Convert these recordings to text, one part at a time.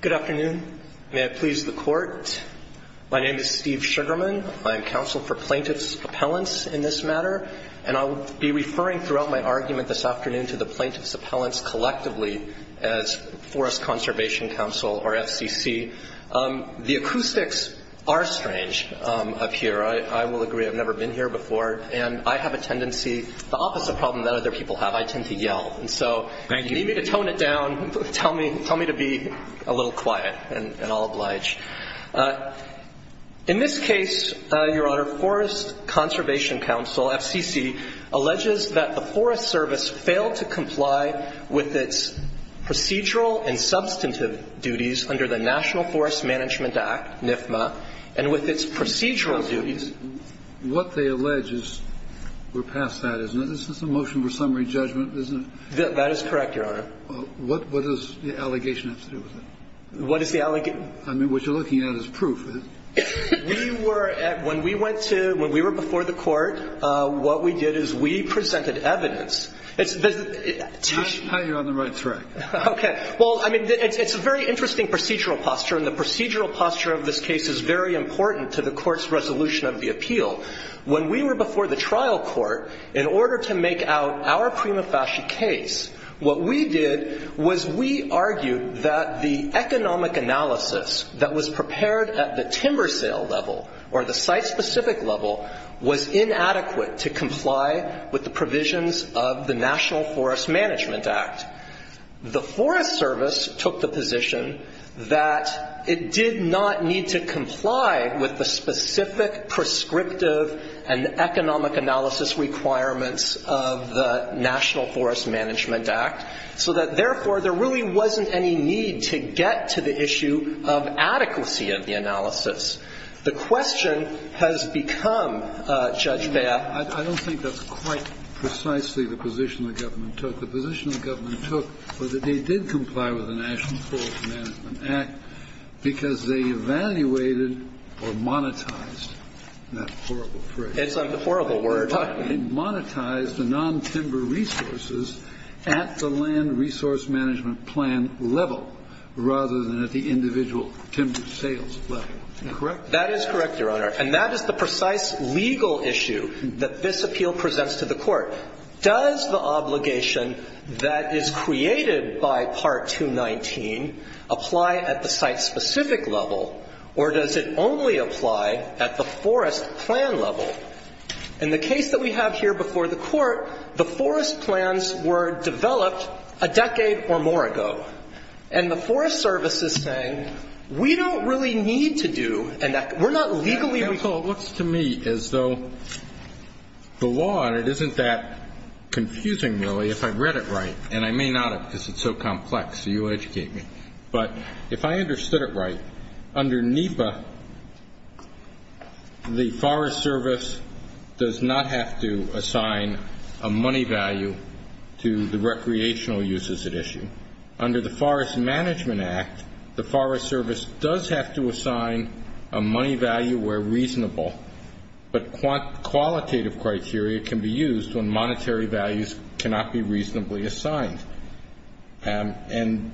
Good afternoon. May I please the court? My name is Steve Sugarman. I'm counsel for Plaintiff's Appellants in this matter. And I'll be referring throughout my argument this afternoon to the Plaintiff's Appellants collectively as Forest Conservation Cnsl or FCC. The acoustics are strange up here. I will agree. I've never been here before. And I have a tendency, the opposite problem that other people have, I tend to yell. And so if you need me to tone it down, tell me to be a little quiet, and I'll oblige. In this case, Your Honor, Forest Conservation Cnsl, FCC, alleges that the Forest Service failed to comply with its procedural and substantive duties under the National Forest Management Act, NFMA, and with its procedural duties. What they allege is we're past that, isn't it? This is a motion for summary judgment, isn't it? That is correct, Your Honor. What does the allegation have to do with it? What is the allegation? I mean, what you're looking at is proof. We were at – when we went to – when we were before the Court, what we did is we presented evidence. It's the – You're on the right track. Okay. Well, I mean, it's a very interesting procedural posture. And the procedural posture of this case is very important to the Court's resolution of the appeal. When we were before the trial court, in order to make out our prima facie case, what we did was we argued that the economic analysis that was prepared at the timber sale level or the site-specific level was inadequate to comply with the provisions of the National Forest Management Act. The Forest Service took the position that it did not need to comply with the specific prescriptive and economic analysis requirements of the National Forest Management Act, so that, therefore, there really wasn't any need to get to the issue of adequacy of the analysis. The question has become, Judge Bea— I don't think that's quite precisely the position the government took. The position the government took was that they did comply with the National Forest Management Act because they evaluated or monetized that horrible phrase. It's a horrible word. They monetized the non-timber resources at the land resource management plan level rather than at the individual timber sales level. Is that correct? That is correct, Your Honor. And that is the precise legal issue that this appeal presents to the Court. Does the obligation that is created by Part 219 apply at the site-specific level, or does it only apply at the forest plan level? In the case that we have here before the Court, the forest plans were developed a decade or more ago. And the Forest Service is saying, we don't really need to do—we're not legally— Counsel, it looks to me as though the law on it isn't that confusing, really, if I've read it right. And I may not have because it's so complex, so you'll educate me. But if I understood it right, under NEPA, the Forest Service does not have to assign a money value to the recreational uses at issue. Under the Forest Management Act, the Forest Service does have to assign a money value where reasonable, but qualitative criteria can be used when monetary values cannot be reasonably assigned. And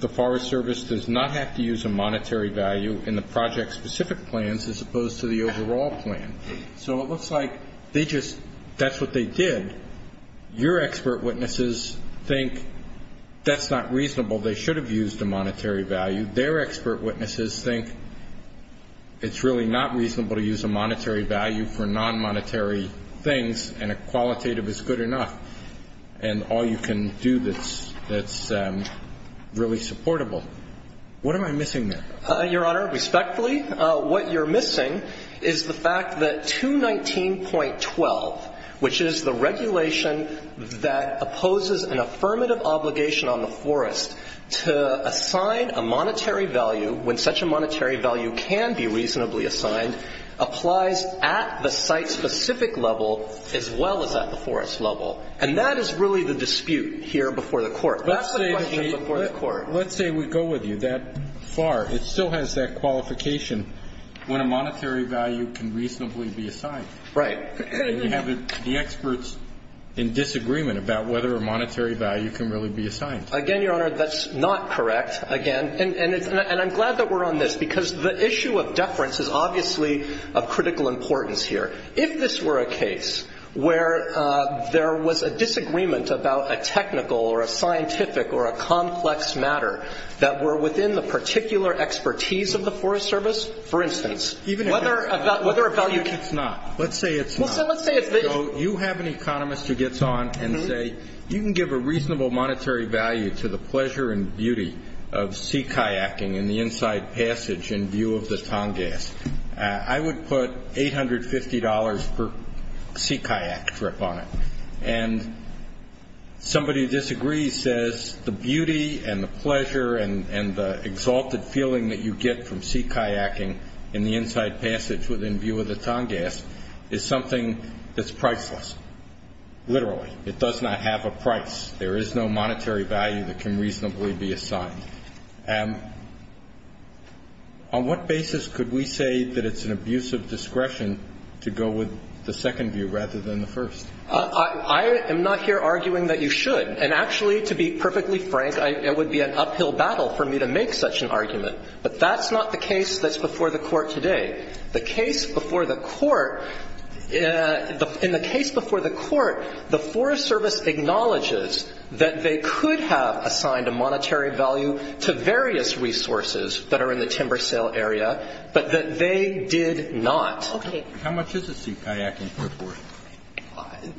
the Forest Service does not have to use a monetary value in the project-specific plans as opposed to the overall plan. So it looks like they just—that's what they did. Your expert witnesses think that's not reasonable. They should have used a monetary value. Their expert witnesses think it's really not reasonable to use a monetary value for non-monetary things, and a qualitative is good enough. And all you can do that's really supportable. What am I missing there? Your Honor, respectfully, what you're missing is the fact that 219.12, which is the regulation that opposes an affirmative obligation on the forest to assign a monetary value when such a monetary value can be reasonably assigned, applies at the site-specific level as well as at the forest level. And that is really the dispute here before the Court. That's the question before the Court. Let's say we go with you that far. It still has that qualification when a monetary value can reasonably be assigned. Right. And we have the experts in disagreement about whether a monetary value can really be assigned. Again, Your Honor, that's not correct. Again, and I'm glad that we're on this because the issue of deference is obviously of critical importance here. If this were a case where there was a disagreement about a technical or a scientific or a complex matter that were within the particular expertise of the Forest Service, for instance, whether a value- Even if it's not. Let's say it's not. Let's say it's- So you have an economist who gets on and say, you can give a reasonable monetary value to the pleasure and beauty of sea kayaking in the inside passage in view of the Tongass. I would put $850 per sea kayak trip on it. And somebody who disagrees says the beauty and the pleasure and the exalted feeling that you get from sea kayaking in the inside passage within view of the Tongass is something that's priceless. Literally. It does not have a price. There is no monetary value that can reasonably be assigned. On what basis could we say that it's an abuse of discretion to go with the second view rather than the first? I am not here arguing that you should. And actually, to be perfectly frank, it would be an uphill battle for me to make such an argument. But that's not the case that's before the Court today. The case before the Court, in the case before the Court, the Forest Service acknowledges that they could have assigned a monetary value to various resources that are in the timber sale area, but that they did not. Okay. How much is a sea kayak in Fort Worth?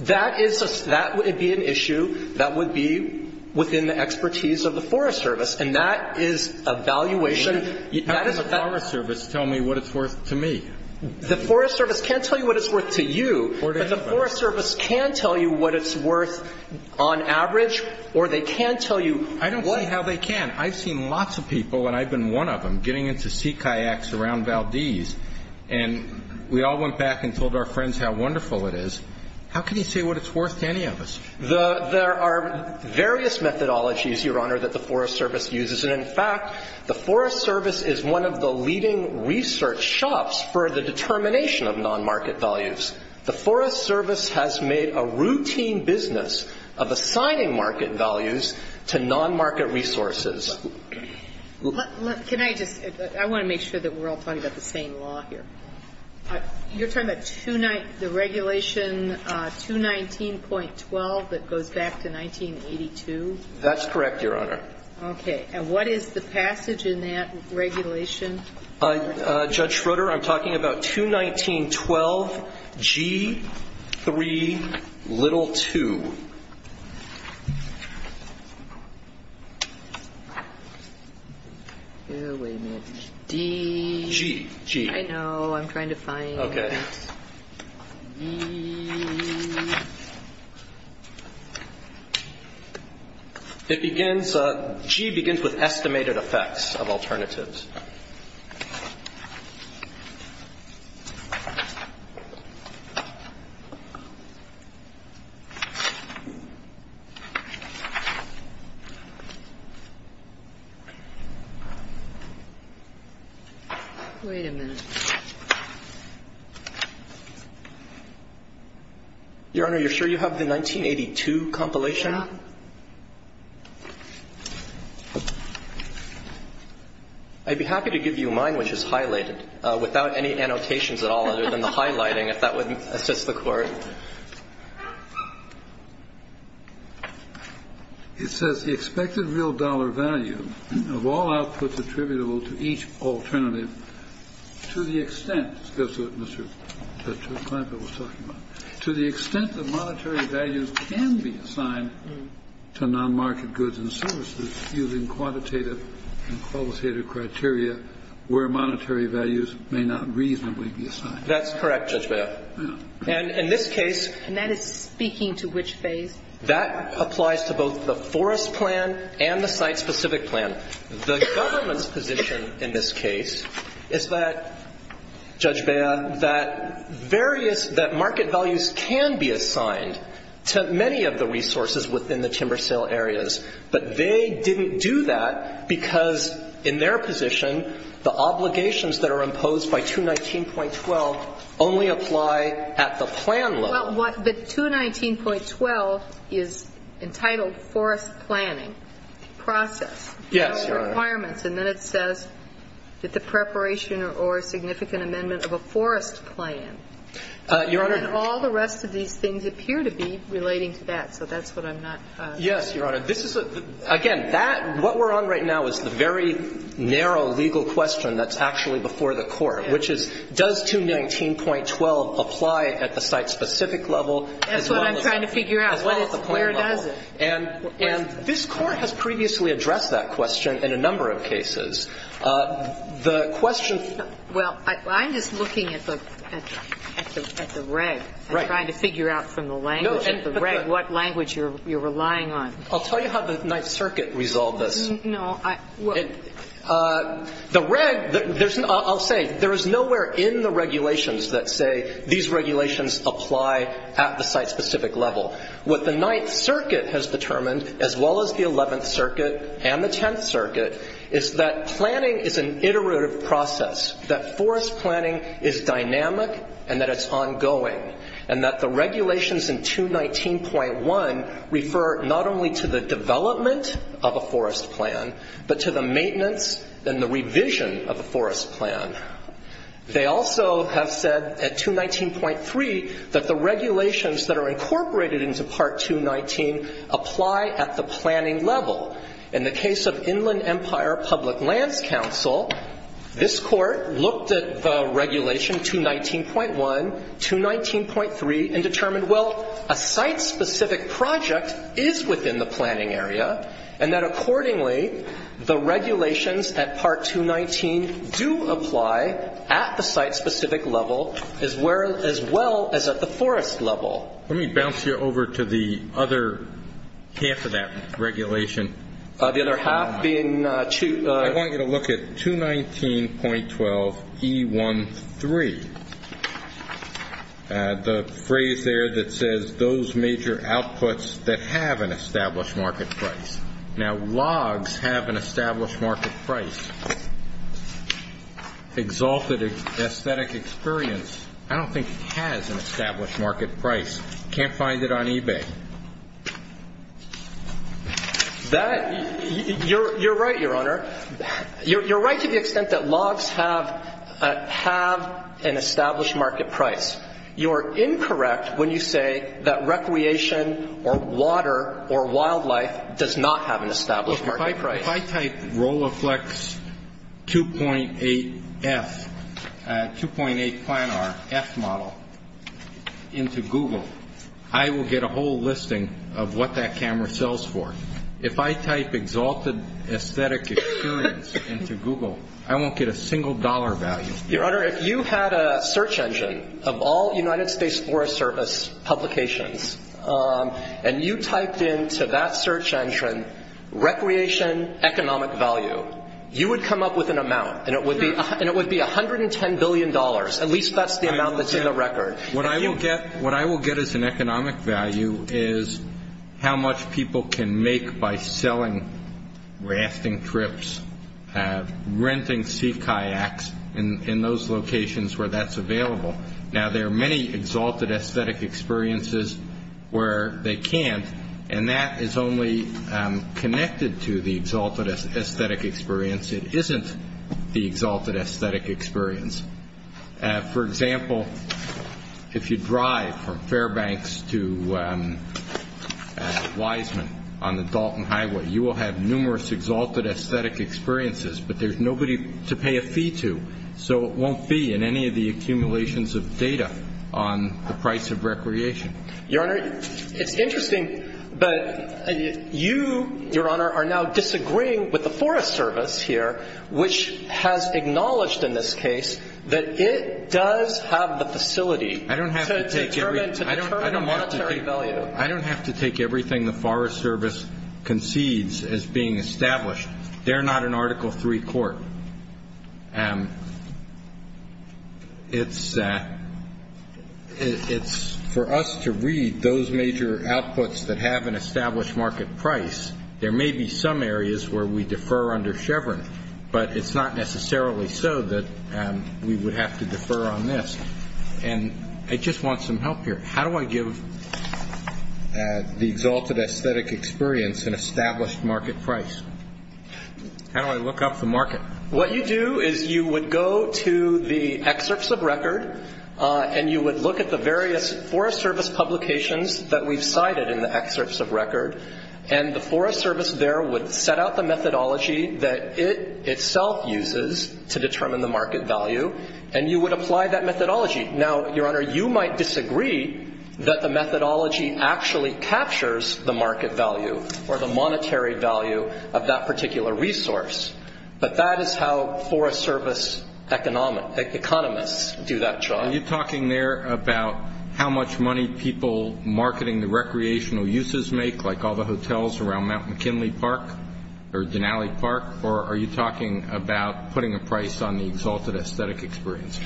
That is a – that would be an issue that would be within the expertise of the Forest Service. And that is a valuation. That is a – How can the Forest Service tell me what it's worth to me? The Forest Service can't tell you what it's worth to you. But the Forest Service can tell you what it's worth on average, or they can tell you what – I don't see how they can. I've seen lots of people, and I've been one of them, getting into sea kayaks around Valdez. And we all went back and told our friends how wonderful it is. How can you say what it's worth to any of us? There are various methodologies, Your Honor, that the Forest Service uses. And, in fact, the Forest Service is one of the leading research shops for the determination of nonmarket values. The Forest Service has made a routine business of assigning market values to nonmarket resources. Can I just – I want to make sure that we're all talking about the same law here. You're talking about the regulation 219.12 that goes back to 1982? That's correct, Your Honor. Okay. And what is the passage in that regulation? Judge Schroeder, I'm talking about 219.12G3l2. Oh, wait a minute. D? G. I know. I'm trying to find it. Okay. It begins – G begins with estimated effects of alternatives. Wait a minute. Your Honor, you're sure you have the 1982 compilation? I'd be happy to give you mine, which is highlighted, without any annotations at all other than the highlighting, if that would assist the Court. It says the expected real dollar value of all outputs attributable to each alternative to the extent – this goes to what Mr. Clampitt was talking about – to the extent that monetary values can be assigned to non-market goods and services using quantitative and qualitative criteria where monetary values may not reasonably be assigned. That's correct, Judge Bea. And in this case – And that is speaking to which phase? That applies to both the forest plan and the site-specific plan. The government's position in this case is that, Judge Bea, that various – that market values can be assigned to many of the resources within the timber sale areas. But they didn't do that because, in their position, the obligations that are imposed by 219.12 only apply at the plan level. Well, the 219.12 is entitled forest planning process. Yes, Your Honor. And then it says that the preparation or significant amendment of a forest plan and all the rest of these things appear to be relating to that. So that's what I'm not – Yes, Your Honor. This is a – again, that – what we're on right now is the very narrow legal question that's actually before the Court, which is, does 219.12 apply at the site-specific level as well as the plan level? That's what I'm trying to figure out. Where does it? And this Court has previously addressed that question in a number of cases. The question – Well, I'm just looking at the reg. Right. I'm trying to figure out from the language of the reg what language you're relying on. I'll tell you how the Ninth Circuit resolved this. No, I – The reg – I'll say, there is nowhere in the regulations that say these regulations apply at the site-specific level. What the Ninth Circuit has determined, as well as the Eleventh Circuit and the Tenth Circuit, is that planning is an iterative process, that forest planning is dynamic and that it's ongoing, and that the regulations in 219.1 refer not only to the development of a forest plan, but to the maintenance and the revision of a forest plan. They also have said at 219.3 that the regulations that are incorporated into Part 219 apply at the planning level. In the case of Inland Empire Public Lands Council, this Court looked at the regulation 219.1, 219.3, and determined, well, a site-specific project is within the planning area, and that accordingly, the regulations at Part 219 do apply at the site-specific level, as well as at the forest level. Let me bounce you over to the other half of that regulation. The other half being – I want you to look at 219.12E13, the phrase there that says, those major outputs that have an established market price. Now, logs have an established market price. Exalted aesthetic experience, I don't think it has an established market price. You can't find it on eBay. That – you're right, Your Honor. You're right to the extent that logs have an established market price. You are incorrect when you say that recreation or water or wildlife does not have an established market price. If I type Roloflex 2.8F, 2.8 Planar F model into Google, I will get a whole listing of what that camera sells for. If I type exalted aesthetic experience into Google, I won't get a single dollar value. Your Honor, if you had a search engine of all United States Forest Service publications, and you typed into that search engine, recreation economic value, you would come up with an amount, and it would be $110 billion. At least that's the amount that's in the record. What I will get as an economic value is how much people can make by selling rafting trips, renting sea kayaks in those locations where that's available. Now, there are many exalted aesthetic experiences where they can't, and that is only connected to the exalted aesthetic experience. It isn't the exalted aesthetic experience. For example, if you drive from Fairbanks to Wiseman on the Dalton Highway, you will have numerous exalted aesthetic experiences, but there's nobody to pay a fee to. So it won't be in any of the accumulations of data on the price of recreation. Your Honor, it's interesting, but you, Your Honor, are now disagreeing with the Forest Service here, which has acknowledged in this case that it does have the facility to determine a monetary value. I don't have to take everything the Forest Service concedes as being established. They're not an Article III court. It's for us to read those major outputs that have an established market price. There may be some areas where we defer under Chevron, but it's not necessarily so that we would have to defer on this. And I just want some help here. How do I give the exalted aesthetic experience an established market price? How do I look up the market? What you do is you would go to the excerpts of record, and you would look at the various Forest Service publications that we've cited in the excerpts of record, and the Forest Service there would set out the methodology that it itself uses to determine the market value, and you would apply that methodology. Now, Your Honor, you might disagree that the methodology actually captures the market value or the monetary value of that particular resource, but that is how Forest Service economists do that job. Are you talking there about how much money people marketing the recreational uses make, like all the hotels around Mount McKinley Park or Denali Park, or are you talking about putting a price on the exalted aesthetic experience?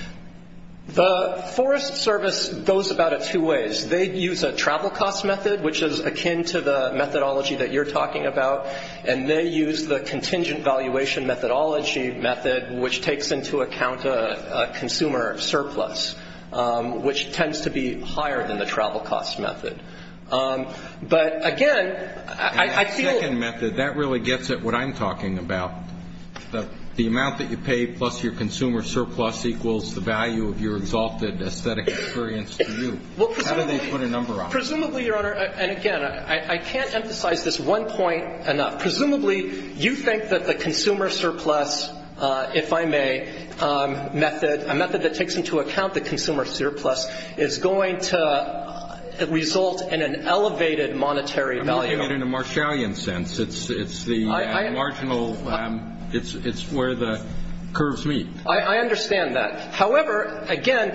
The Forest Service goes about it two ways. They use a travel cost method, which is akin to the methodology that you're talking about, and they use the contingent valuation methodology method, which takes into account a consumer surplus, which tends to be higher than the travel cost method. But, again, I feel- The second method, that really gets at what I'm talking about. The amount that you pay plus your consumer surplus equals the value of your exalted aesthetic experience to you. How do they put a number on it? Presumably, Your Honor, and, again, I can't emphasize this one point enough. Presumably, you think that the consumer surplus, if I may, method, a method that takes into account the consumer surplus, is going to result in an elevated monetary value. I'm not taking it in a Marshallian sense. It's the marginal. It's where the curves meet. I understand that. However, again,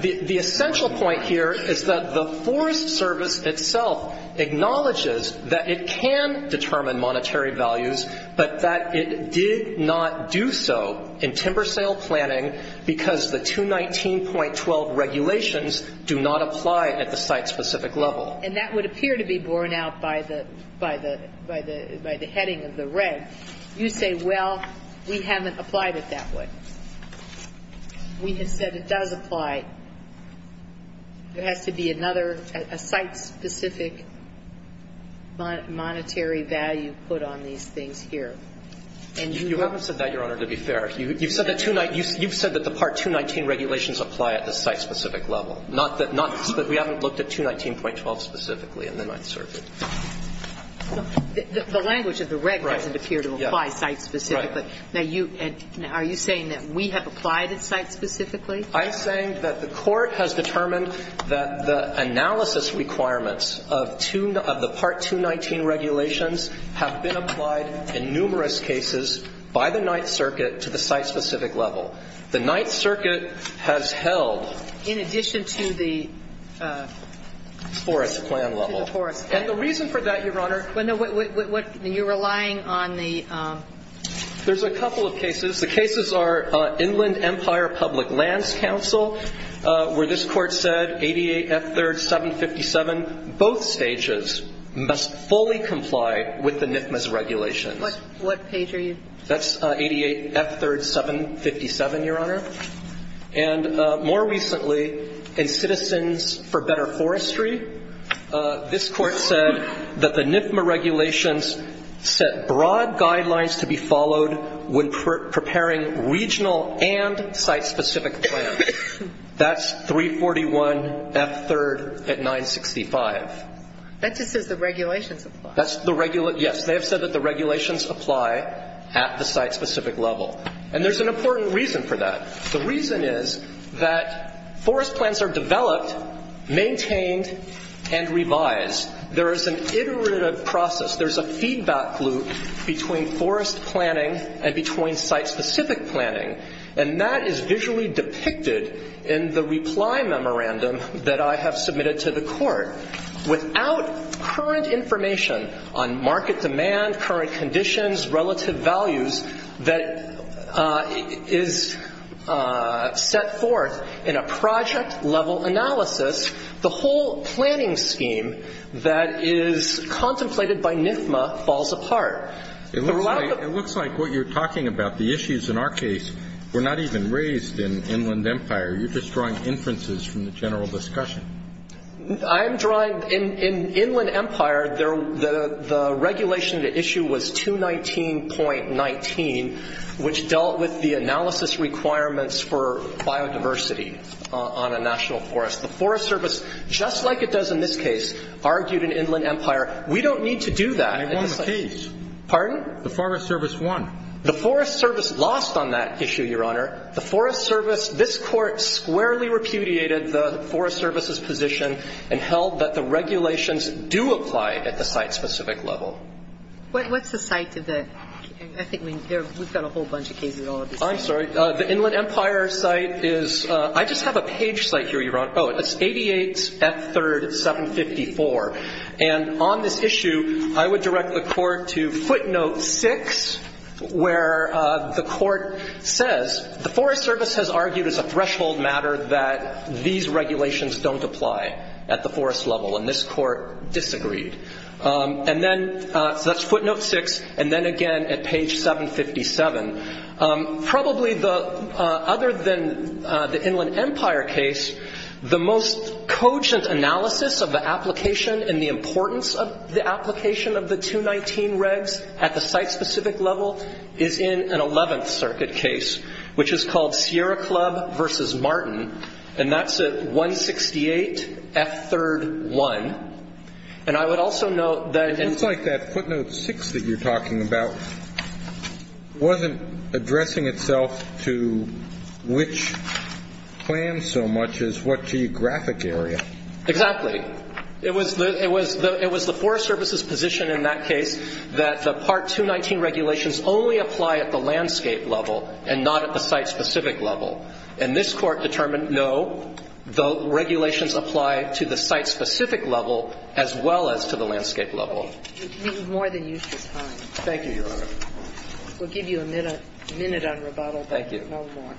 the essential point here is that the Forest Service itself acknowledges that it can determine monetary values, but that it did not do so in timber sale planning because the 219.12 regulations do not apply at the site-specific level. And that would appear to be borne out by the heading of the red. You say, well, we haven't applied it that way. We have said it does apply. There has to be another, a site-specific monetary value put on these things here. And you- You haven't said that, Your Honor, to be fair. You've said that the Part 219 regulations apply at the site-specific level. Not that we haven't looked at 219.12 specifically in the Ninth Circuit. The language of the red doesn't appear to apply site-specifically. Now, are you saying that we have applied it site-specifically? I'm saying that the Court has determined that the analysis requirements of the Part 219 regulations have been applied in numerous cases by the Ninth Circuit to the site-specific level. The Ninth Circuit has held- In addition to the- Forest plan level. To the forest plan. And the reason for that, Your Honor- Well, no. You're relying on the- There's a couple of cases. The cases are Inland Empire Public Lands Council, where this Court said 88F3rd 757, both stages, must fully comply with the NIFMA's regulations. What page are you- That's 88F3rd 757, Your Honor. And more recently, in Citizens for Better Forestry, this Court said that the NIFMA regulations set broad guidelines to be followed when preparing regional and site-specific plans. That's 341F3rd at 965. That just says the regulations apply. Yes, they have said that the regulations apply at the site-specific level. And there's an important reason for that. The reason is that forest plans are developed, maintained, and revised. There is an iterative process. There's a feedback loop between forest planning and between site-specific planning, and that is visually depicted in the reply memorandum that I have submitted to the Court. Without current information on market demand, current conditions, relative values that is set forth in a project-level analysis, the whole planning scheme that is contemplated by NIFMA falls apart. It looks like what you're talking about, the issues in our case, were not even raised in Inland Empire. You're just drawing inferences from the general discussion. I'm drawing – in Inland Empire, the regulation, the issue was 219.19, which dealt with the analysis requirements for biodiversity on a national forest. The Forest Service, just like it does in this case, argued in Inland Empire, we don't need to do that. I want the keys. Pardon? The Forest Service won. The Forest Service lost on that issue, Your Honor. In Inland Empire, the Forest Service – this Court squarely repudiated the Forest Service's position and held that the regulations do apply at the site-specific level. What's the site of the – I think we've got a whole bunch of cases all at the same time. I'm sorry. The Inland Empire site is – I just have a page site here, Your Honor. Oh, it's 88 F3rd 754. And on this issue, I would direct the Court to footnote 6, where the Court says the Forest Service has argued as a threshold matter that these regulations don't apply at the forest level, and this Court disagreed. And then – so that's footnote 6, and then again at page 757. Probably the – other than the Inland Empire case, the most cogent analysis of the application and the importance of the application of the 219 regs at the site-specific level is in an 11th Circuit case, which is called Sierra Club v. Martin, and that's at 168 F3rd 1. And I would also note that – It looks like that footnote 6 that you're talking about wasn't addressing itself to which plan so much as what geographic area. Exactly. It was the Forest Service's position in that case that the Part 219 regulations only apply at the landscape level and not at the site-specific level. And this Court determined, no, the regulations apply to the site-specific level as well as to the landscape level. Okay. We've more than used your time. Thank you, Your Honor. We'll give you a minute on rebuttal. Thank you. No more.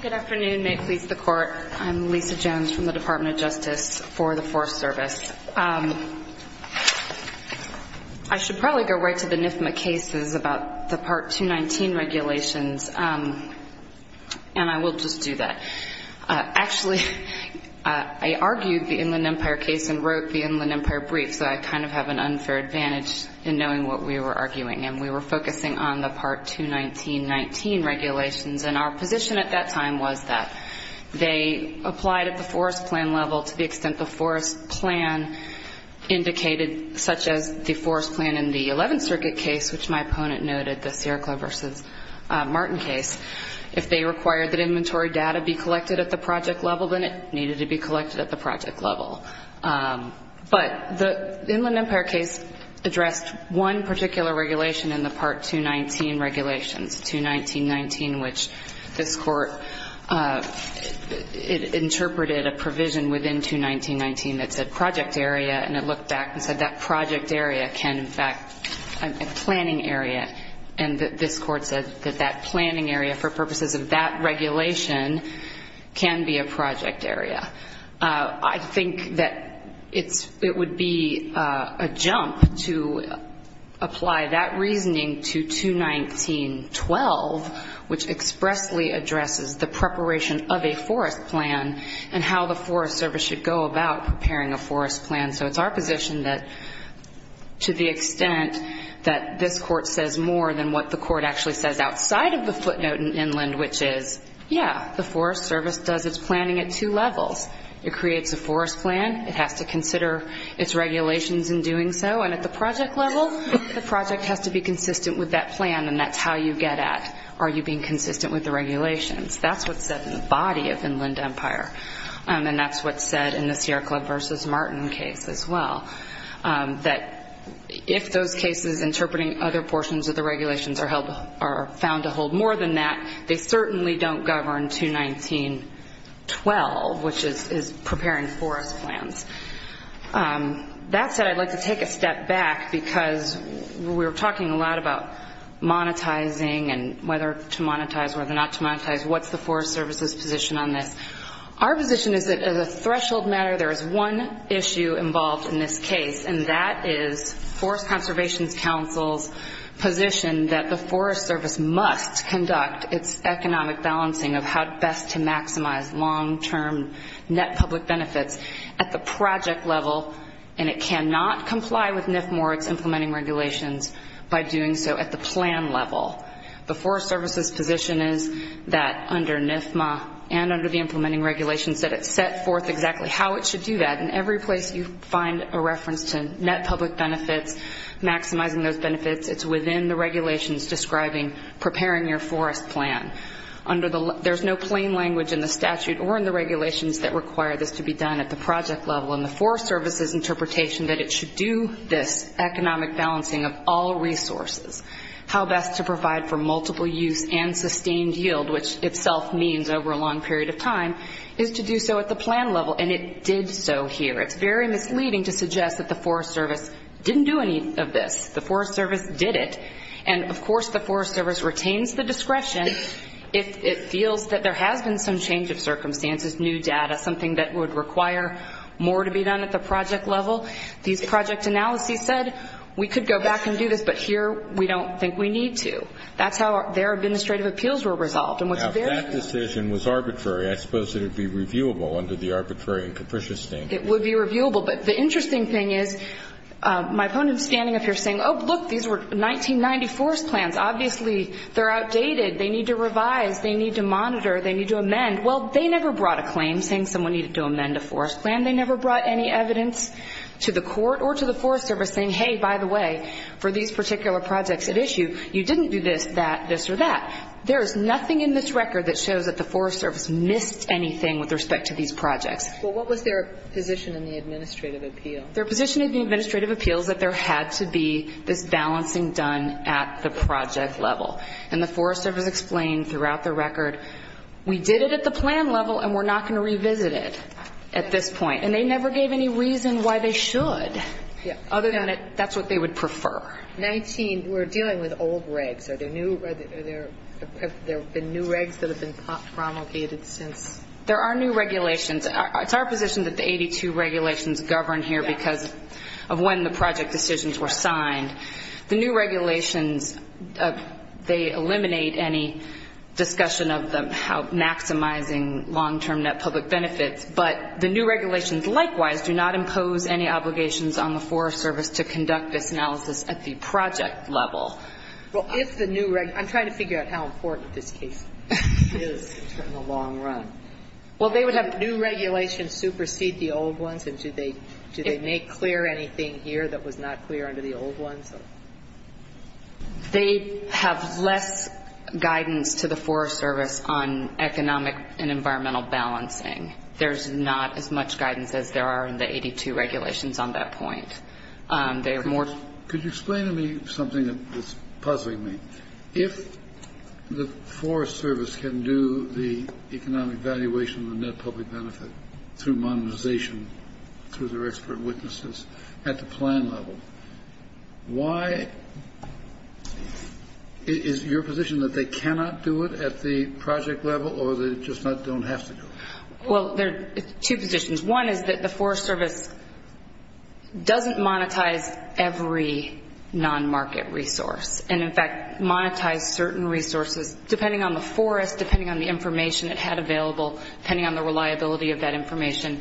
Good afternoon. May it please the Court. I'm Lisa Jones from the Department of Justice for the Forest Service. I should probably go right to the NIFMA cases about the Part 219 regulations, and I will just do that. Actually, I argued the Inland Empire case and wrote the Inland Empire brief, so I kind of have an unfair advantage in knowing what we were arguing, and we were focusing on the Part 219-19 regulations. And our position at that time was that they applied at the forest plan level to the extent the forest plan indicated, such as the forest plan in the Eleventh Circuit case, which my opponent noted, the Sierra Club v. Martin case. If they required that inventory data be collected at the project level, then it needed to be collected at the project level. But the Inland Empire case addressed one particular regulation in the Part 219 regulations, 219-19, which this Court interpreted a provision within 219-19 that said project area, and it looked back and said that project area can, in fact, be a planning area. And this Court said that that planning area, for purposes of that regulation, can be a project area. I think that it would be a jump to apply that reasoning to 219-12, which expressly addresses the preparation of a forest plan and how the Forest Service should go about preparing a forest plan. So it's our position that to the extent that this Court says more than what the Court actually says outside of the footnote in Inland, which is, yeah, the Forest Service does its planning at two levels. It creates a forest plan. It has to consider its regulations in doing so. And at the project level, the project has to be consistent with that plan, and that's how you get at are you being consistent with the regulations. That's what's said in the body of Inland Empire, and that's what's said in the Sierra Club v. Martin case as well, that if those cases interpreting other portions of the regulations are found to hold more than that, they certainly don't govern 219-12, which is preparing forest plans. That said, I'd like to take a step back, because we were talking a lot about monetizing and whether to monetize, whether not to monetize. What's the Forest Service's position on this? Our position is that as a threshold matter, there is one issue involved in this case, and that is Forest Conservation Council's position that the Forest Service must conduct its economic balancing of how best to maximize long-term net public benefits at the project level, and it cannot comply with NFMORG's implementing regulations by doing so at the plan level. The Forest Service's position is that under NFMA and under the implementing regulations that it's set forth exactly how it should do that, and every place you find a reference to net public benefits, maximizing those benefits, it's within the regulations describing preparing your forest plan. There's no plain language in the statute or in the regulations that require this to be done at the project level, and the Forest Service's interpretation that it should do this economic balancing of all resources, how best to provide for multiple use and sustained yield, which itself means over a long period of time, is to do so at the plan level, and it did so here. It's very misleading to suggest that the Forest Service didn't do any of this. The Forest Service did it, and of course the Forest Service retains the discretion if it feels that there has been some change of circumstances, new data, something that would require more to be done at the project level. These project analyses said we could go back and do this, but here we don't think we need to. That's how their administrative appeals were resolved. And what's very clear to me is that this decision was arbitrary. I suppose it would be reviewable under the arbitrary and capricious standard. It would be reviewable, but the interesting thing is my opponent is standing up here saying, oh, look, these were 1990 forest plans. Obviously they're outdated. They need to revise. They need to monitor. They need to amend. Well, they never brought a claim saying someone needed to amend a forest plan. They never brought any evidence to the court or to the Forest Service saying, hey, by the way, for these particular projects at issue, you didn't do this, that, this, or that. There is nothing in this record that shows that the Forest Service missed anything with respect to these projects. But what was their position in the administrative appeal? Their position in the administrative appeal is that there had to be this balancing done at the project level. And the Forest Service explained throughout the record, we did it at the plan level and we're not going to revisit it at this point. And they never gave any reason why they should. Yeah. Other than that's what they would prefer. 19, we're dealing with old regs. Are there new regs that have been promulgated since? There are new regulations. It's our position that the 82 regulations govern here because of when the project decisions were signed. The new regulations, they eliminate any discussion of them maximizing long-term net public benefits. But the new regulations, likewise, do not impose any obligations on the Forest Service to conduct this analysis at the project level. I'm trying to figure out how important this case is in the long run. Well, they would have new regulations supersede the old ones, and do they make clear anything here that was not clear under the old ones? They have less guidance to the Forest Service on economic and environmental balancing. There's not as much guidance as there are in the 82 regulations on that point. Could you explain to me something that's puzzling me? If the Forest Service can do the economic valuation of the net public benefit through modernization, through their expert witnesses, at the plan level, why is your position that they cannot do it at the project level or they just don't have to do it? Well, there are two positions. One is that the Forest Service doesn't monetize every non-market resource and, in fact, monetize certain resources depending on the forest, depending on the information it had available, depending on the reliability of that information,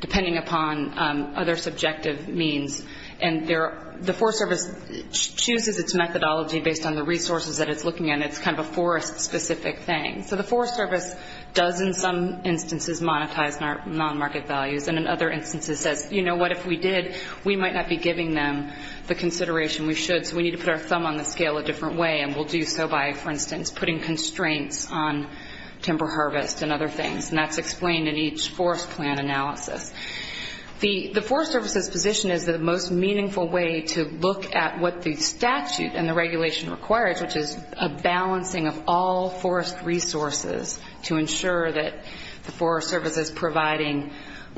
depending upon other subjective means. And the Forest Service chooses its methodology based on the resources that it's looking at. It's kind of a forest-specific thing. So the Forest Service does, in some instances, monetize non-market values and, in other instances, says, you know what? If we did, we might not be giving them the consideration we should, so we need to put our thumb on the scale a different way, and we'll do so by, for instance, putting constraints on timber harvest and other things. And that's explained in each forest plan analysis. The Forest Service's position is the most meaningful way to look at what the statute and the regulation requires, which is a balancing of all forest resources to ensure that the Forest Service is providing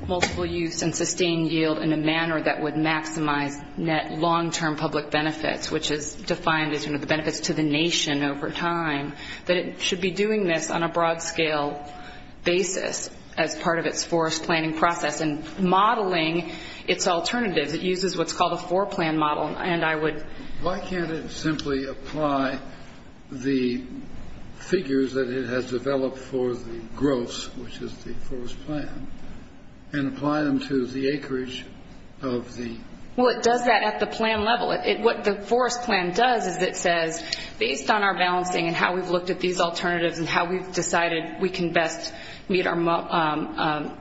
multiple use and sustained yield in a manner that would maximize net long-term public benefits, which is defined as, you know, the benefits to the nation over time, that it should be doing this on a broad-scale basis as part of its forest planning process and modeling its alternatives. It uses what's called a four-plan model, and I would... Why can't it simply apply the figures that it has developed for the gross, which is the forest plan, and apply them to the acreage of the... Well, it does that at the plan level. What the forest plan does is it says, based on our balancing and how we've looked at these alternatives and how we've decided we can best meet our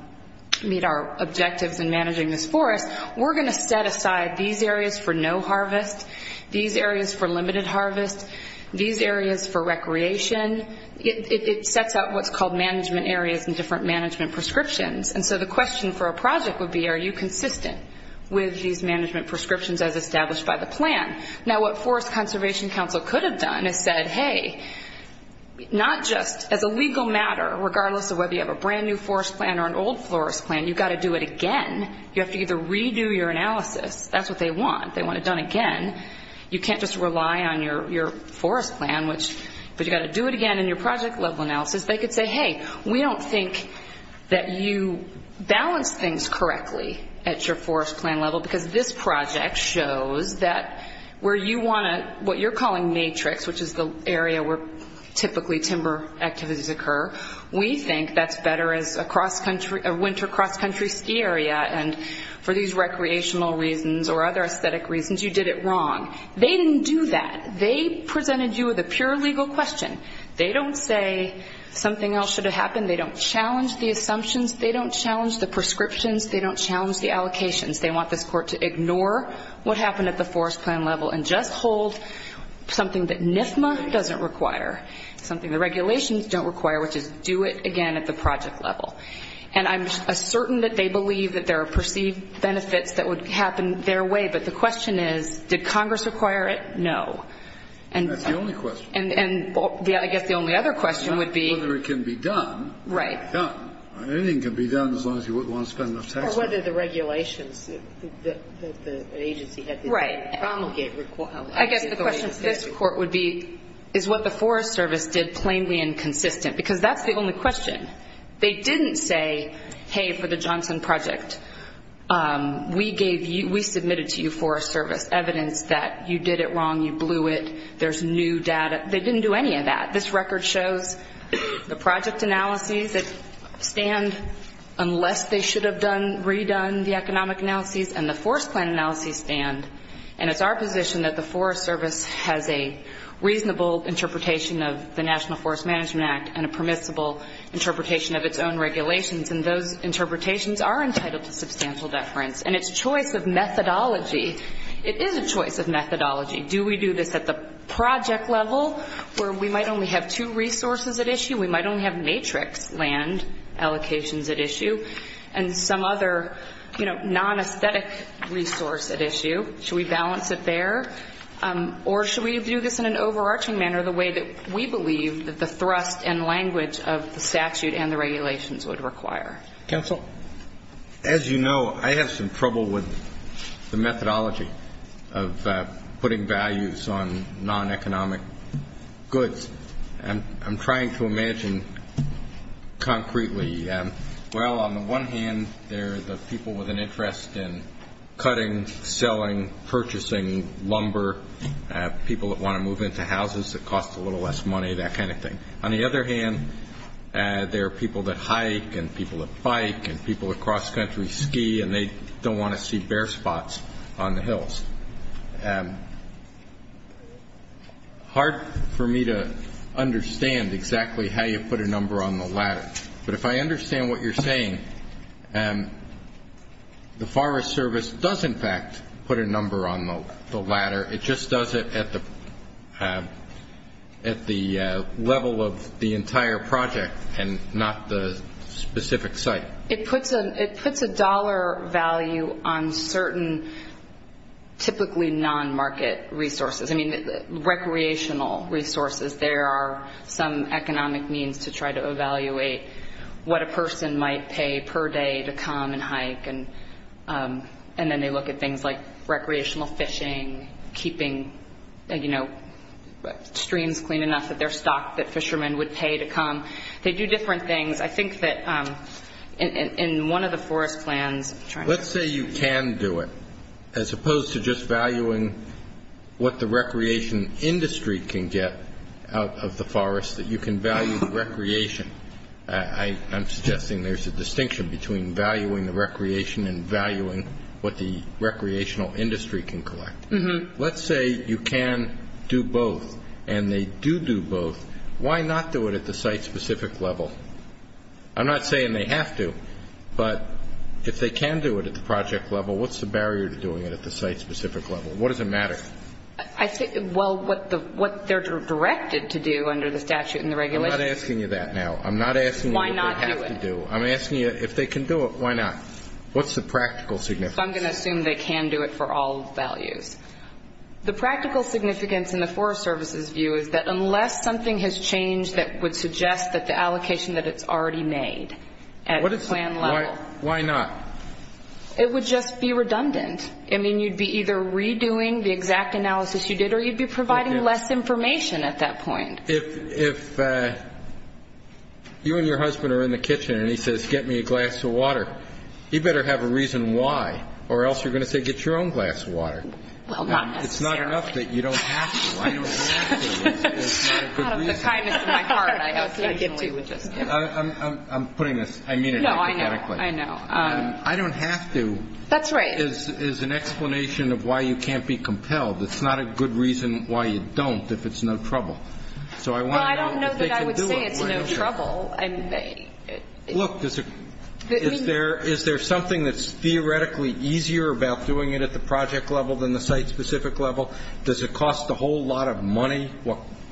objectives in managing this forest, we're going to set aside these areas for no harvest, these areas for limited harvest, these areas for recreation. It sets out what's called management areas and different management prescriptions. And so the question for a project would be, are you consistent with these management prescriptions as established by the plan? Now, what Forest Conservation Council could have done is said, hey, not just as a legal matter, regardless of whether you have a brand-new forest plan or an old forest plan, you've got to do it again. You have to either redo your analysis. That's what they want. They want it done again. You can't just rely on your forest plan, but you've got to do it again in your project-level analysis. They could say, hey, we don't think that you balance things correctly at your forest plan level because this project shows that where you want to, what you're calling matrix, which is the area where typically timber activities occur, we think that's better as a winter cross-country ski area, and for these recreational reasons or other aesthetic reasons, you did it wrong. They didn't do that. They presented you with a pure legal question. They don't say something else should have happened. They don't challenge the assumptions. They don't challenge the prescriptions. They don't challenge the allocations. They want this court to ignore what happened at the forest plan level and just hold something that NFMA doesn't require, something the regulations don't require, which is do it again at the project level. And I'm certain that they believe that there are perceived benefits that would happen their way, but the question is, did Congress require it? No. That's the only question. And I guess the only other question would be. Whether it can be done. Right. Anything can be done as long as you want to spend enough tax money. Or whether the regulations that the agency had to promulgate. Right. I guess the question for this court would be, is what the Forest Service did plainly inconsistent? Because that's the only question. They didn't say, hey, for the Johnson Project, we gave you, we submitted to you Forest Service evidence that you did it wrong, you blew it, there's new data. They didn't do any of that. This record shows the project analyses that stand unless they should have redone the economic analyses and the forest plan analyses stand. And it's our position that the Forest Service has a reasonable interpretation of the National Forest Management Act and a permissible interpretation of its own regulations. And those interpretations are entitled to substantial deference. And its choice of methodology, it is a choice of methodology. Do we do this at the project level where we might only have two resources at issue? We might only have matrix land allocations at issue. And some other, you know, non-aesthetic resource at issue. Should we balance it there? Or should we do this in an overarching manner the way that we believe that the thrust and language of the statute and the regulations would require? Counsel? Well, as you know, I have some trouble with the methodology of putting values on non-economic goods. I'm trying to imagine concretely, well, on the one hand, there are the people with an interest in cutting, selling, purchasing lumber, people that want to move into houses that cost a little less money, that kind of thing. On the other hand, there are people that hike and people that bike and people that cross-country ski and they don't want to see bare spots on the hills. Hard for me to understand exactly how you put a number on the ladder. But if I understand what you're saying, the Forest Service does, in fact, put a number on the ladder. It just does it at the level of the entire project and not the specific site. It puts a dollar value on certain typically non-market resources. I mean, recreational resources. There are some economic means to try to evaluate what a person might pay per day to come and hike. And then they look at things like recreational fishing, keeping, you know, streams clean enough that they're stocked that fishermen would pay to come. They do different things. I think that in one of the forest plans trying to do that. Let's say you can do it, as opposed to just valuing what the recreation industry can get out of the forest, that you can value the recreation. I'm suggesting there's a distinction between valuing the recreation and valuing what the recreational industry can collect. Let's say you can do both and they do do both. Why not do it at the site-specific level? I'm not saying they have to, but if they can do it at the project level, what's the barrier to doing it at the site-specific level? What does it matter? Well, what they're directed to do under the statute and the regulations. I'm not asking you that now. I'm not asking you what they have to do. Why not do it? I'm asking you if they can do it, why not? What's the practical significance? I'm going to assume they can do it for all values. The practical significance in the Forest Service's view is that unless something has changed that would suggest that the allocation that it's already made at the plan level. Why not? It would just be redundant. I mean, you'd be either redoing the exact analysis you did or you'd be providing less information at that point. If you and your husband are in the kitchen and he says, get me a glass of water, you'd better have a reason why or else you're going to say, get your own glass of water. Well, not necessarily. It's not enough that you don't have to. I don't have to. It's not a good reason. Out of the kindness of my heart, I ultimately would just do it. I'm putting this. I mean it. No, I know. I know. I don't have to. That's right. Is an explanation of why you can't be compelled. It's not a good reason why you don't if it's no trouble. So I want to know if they can do it. Well, I don't know that I would say it's no trouble. Look, is there something that's theoretically easier about doing it at the project level than the site-specific level? Does it cost a whole lot of money?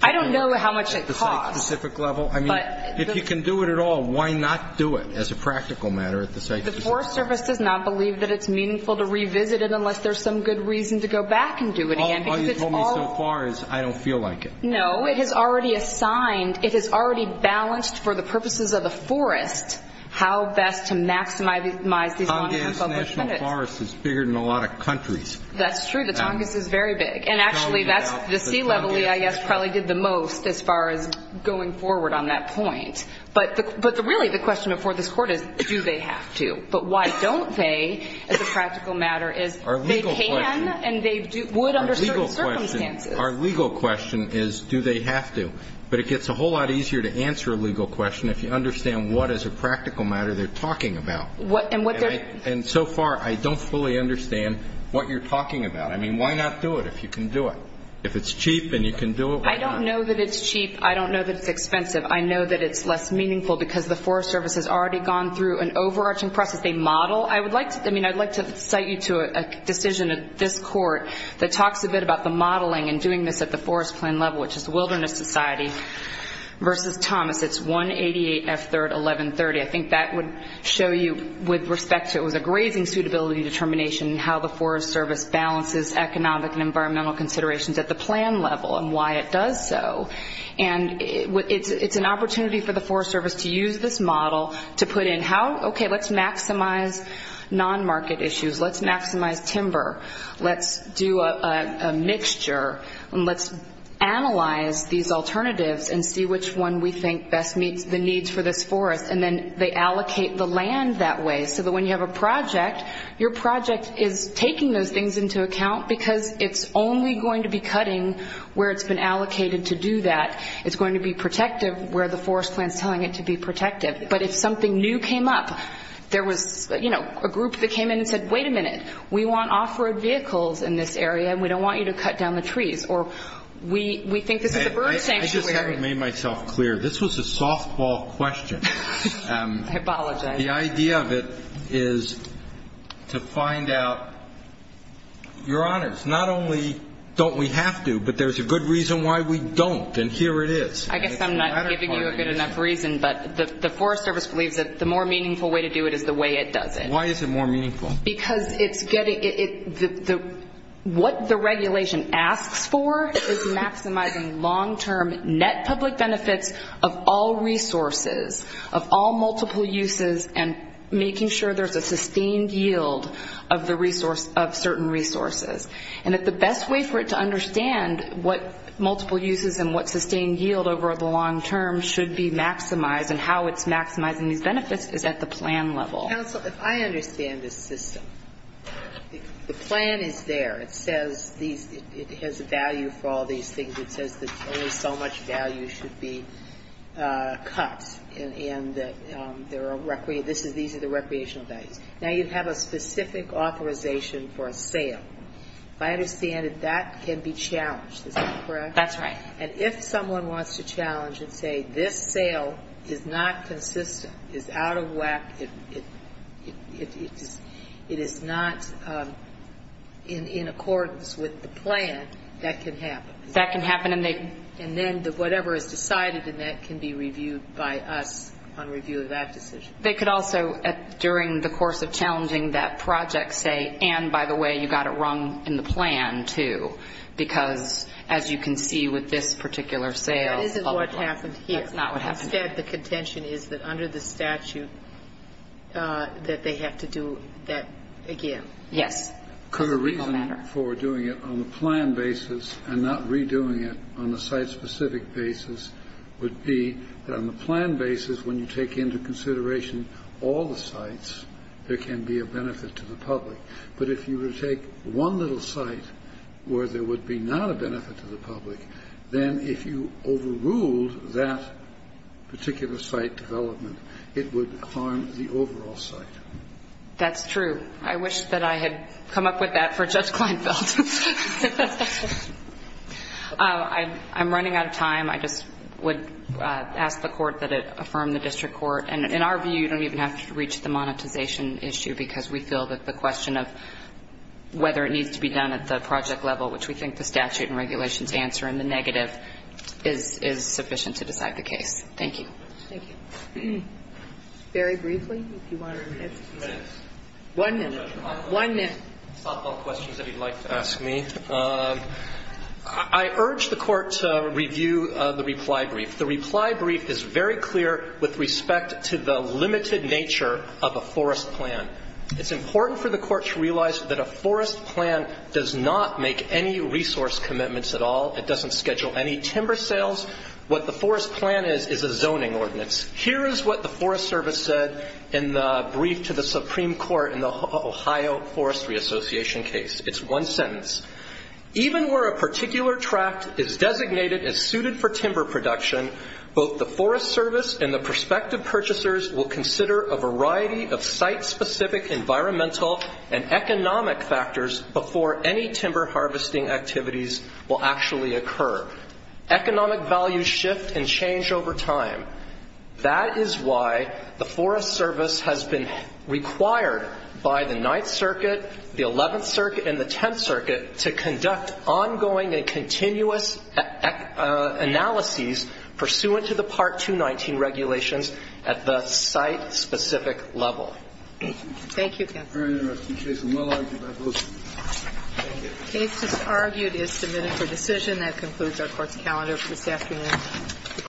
I don't know how much it costs. I mean, if you can do it at all, why not do it as a practical matter at the site-specific level? The Forest Service does not believe that it's meaningful to revisit it unless there's some good reason to go back and do it again. All you've told me so far is I don't feel like it. No. It has already assigned, it has already balanced for the purposes of the forest how best to maximize these 100 public minutes. Tongass National Forest is bigger than a lot of countries. That's true. The Tongass is very big. And actually, that's the sea level EIS probably did the most as far as going forward on that point. But really the question before this Court is do they have to? But why don't they as a practical matter is they can and they would under certain circumstances. Our legal question is do they have to? But it gets a whole lot easier to answer a legal question if you understand what as a practical matter they're talking about. And so far I don't fully understand what you're talking about. I mean, why not do it if you can do it? If it's cheap and you can do it, why not? I don't know that it's cheap. I don't know that it's expensive. I know that it's less meaningful because the Forest Service has already gone through an overarching process. They model. I would like to cite you to a decision of this Court that talks a bit about the modeling and doing this at the Forest Plan level, which is the Wilderness Society versus Tongass. It's 188 F3rd 1130. I think that would show you with respect to it was a grazing suitability determination and how the Forest Service balances economic and environmental considerations at the plan level and why it does so. It's an opportunity for the Forest Service to use this model to put in, okay, let's maximize non-market issues. Let's maximize timber. Let's do a mixture. Let's analyze these alternatives and see which one we think best meets the needs for this forest. And then they allocate the land that way so that when you have a project, your project is taking those things into account because it's only going to be cutting where it's been allocated to do that. It's going to be protective where the Forest Plan is telling it to be protective. But if something new came up, there was, you know, a group that came in and said, wait a minute, we want off-road vehicles in this area, and we don't want you to cut down the trees, or we think this is a bird sanctuary. I just haven't made myself clear. This was a softball question. I apologize. The idea of it is to find out, Your Honors, not only don't we have to, but there's a good reason why we don't, and here it is. I guess I'm not giving you a good enough reason, but the Forest Service believes that the more meaningful way to do it is the way it does it. Why is it more meaningful? Because it's getting the what the regulation asks for is maximizing long-term net public benefits of all resources, of all multiple uses, and making sure there's a sustained yield of the resource of certain resources. And that the best way for it to understand what multiple uses and what sustained yield over the long term should be maximized and how it's maximizing these benefits is at the plan level. Counsel, if I understand this system, the plan is there. It has a value for all these things. It says that only so much value should be cut, and these are the recreational values. Now, you have a specific authorization for a sale. I understand that that can be challenged. Is that correct? That's right. And if someone wants to challenge and say, is not consistent, is out of whack, it is not in accordance with the plan, that can happen. That can happen. And then whatever is decided in that can be reviewed by us on review of that decision. They could also, during the course of challenging that project, say, and, by the way, you got it wrong in the plan, too. Because, as you can see with this particular sale, That isn't what happened here. That's not what happened here. Instead, the contention is that under the statute that they have to do that again. Yes. Because the reason for doing it on the plan basis and not redoing it on the site-specific basis would be that on the plan basis, when you take into consideration all the sites, there can be a benefit to the public. But if you were to take one little site where there would be not a benefit to the public, then if you overruled that particular site development, it would harm the overall site. That's true. I wish that I had come up with that for Judge Kleinfeld. I'm running out of time. I just would ask the Court that it affirm the district court. And in our view, you don't even have to reach the monetization issue because we feel that the question of whether it needs to be done at the project level, which we think the statute and regulations answer in the negative, is sufficient to decide the case. Thank you. Thank you. Very briefly, if you want to. One minute. One minute. I have a couple of questions that he'd like to ask me. I urge the Court to review the reply brief. The reply brief is very clear with respect to the limited nature of a forest plan. It's important for the Court to realize that a forest plan does not make any resource commitments at all. It doesn't schedule any timber sales. What the forest plan is is a zoning ordinance. Here is what the Forest Service said in the brief to the Supreme Court in the Ohio Forestry Association case. It's one sentence. Even where a particular tract is designated as suited for timber production, both the Forest Service and the prospective purchasers will consider a variety of site-specific environmental and economic factors before any timber harvesting activities will actually occur. Economic values shift and change over time. That is why the Forest Service has been required by the Ninth Circuit, the Eleventh Circuit, and the Tenth Circuit to conduct ongoing and continuous analyses pursuant to the Part 219 regulations at the site-specific level. Thank you. Thank you, counsel. Very interesting case. I'm well-argued by both of you. Thank you. The case, as argued, is submitted for decision. That concludes our Court's calendar for this afternoon.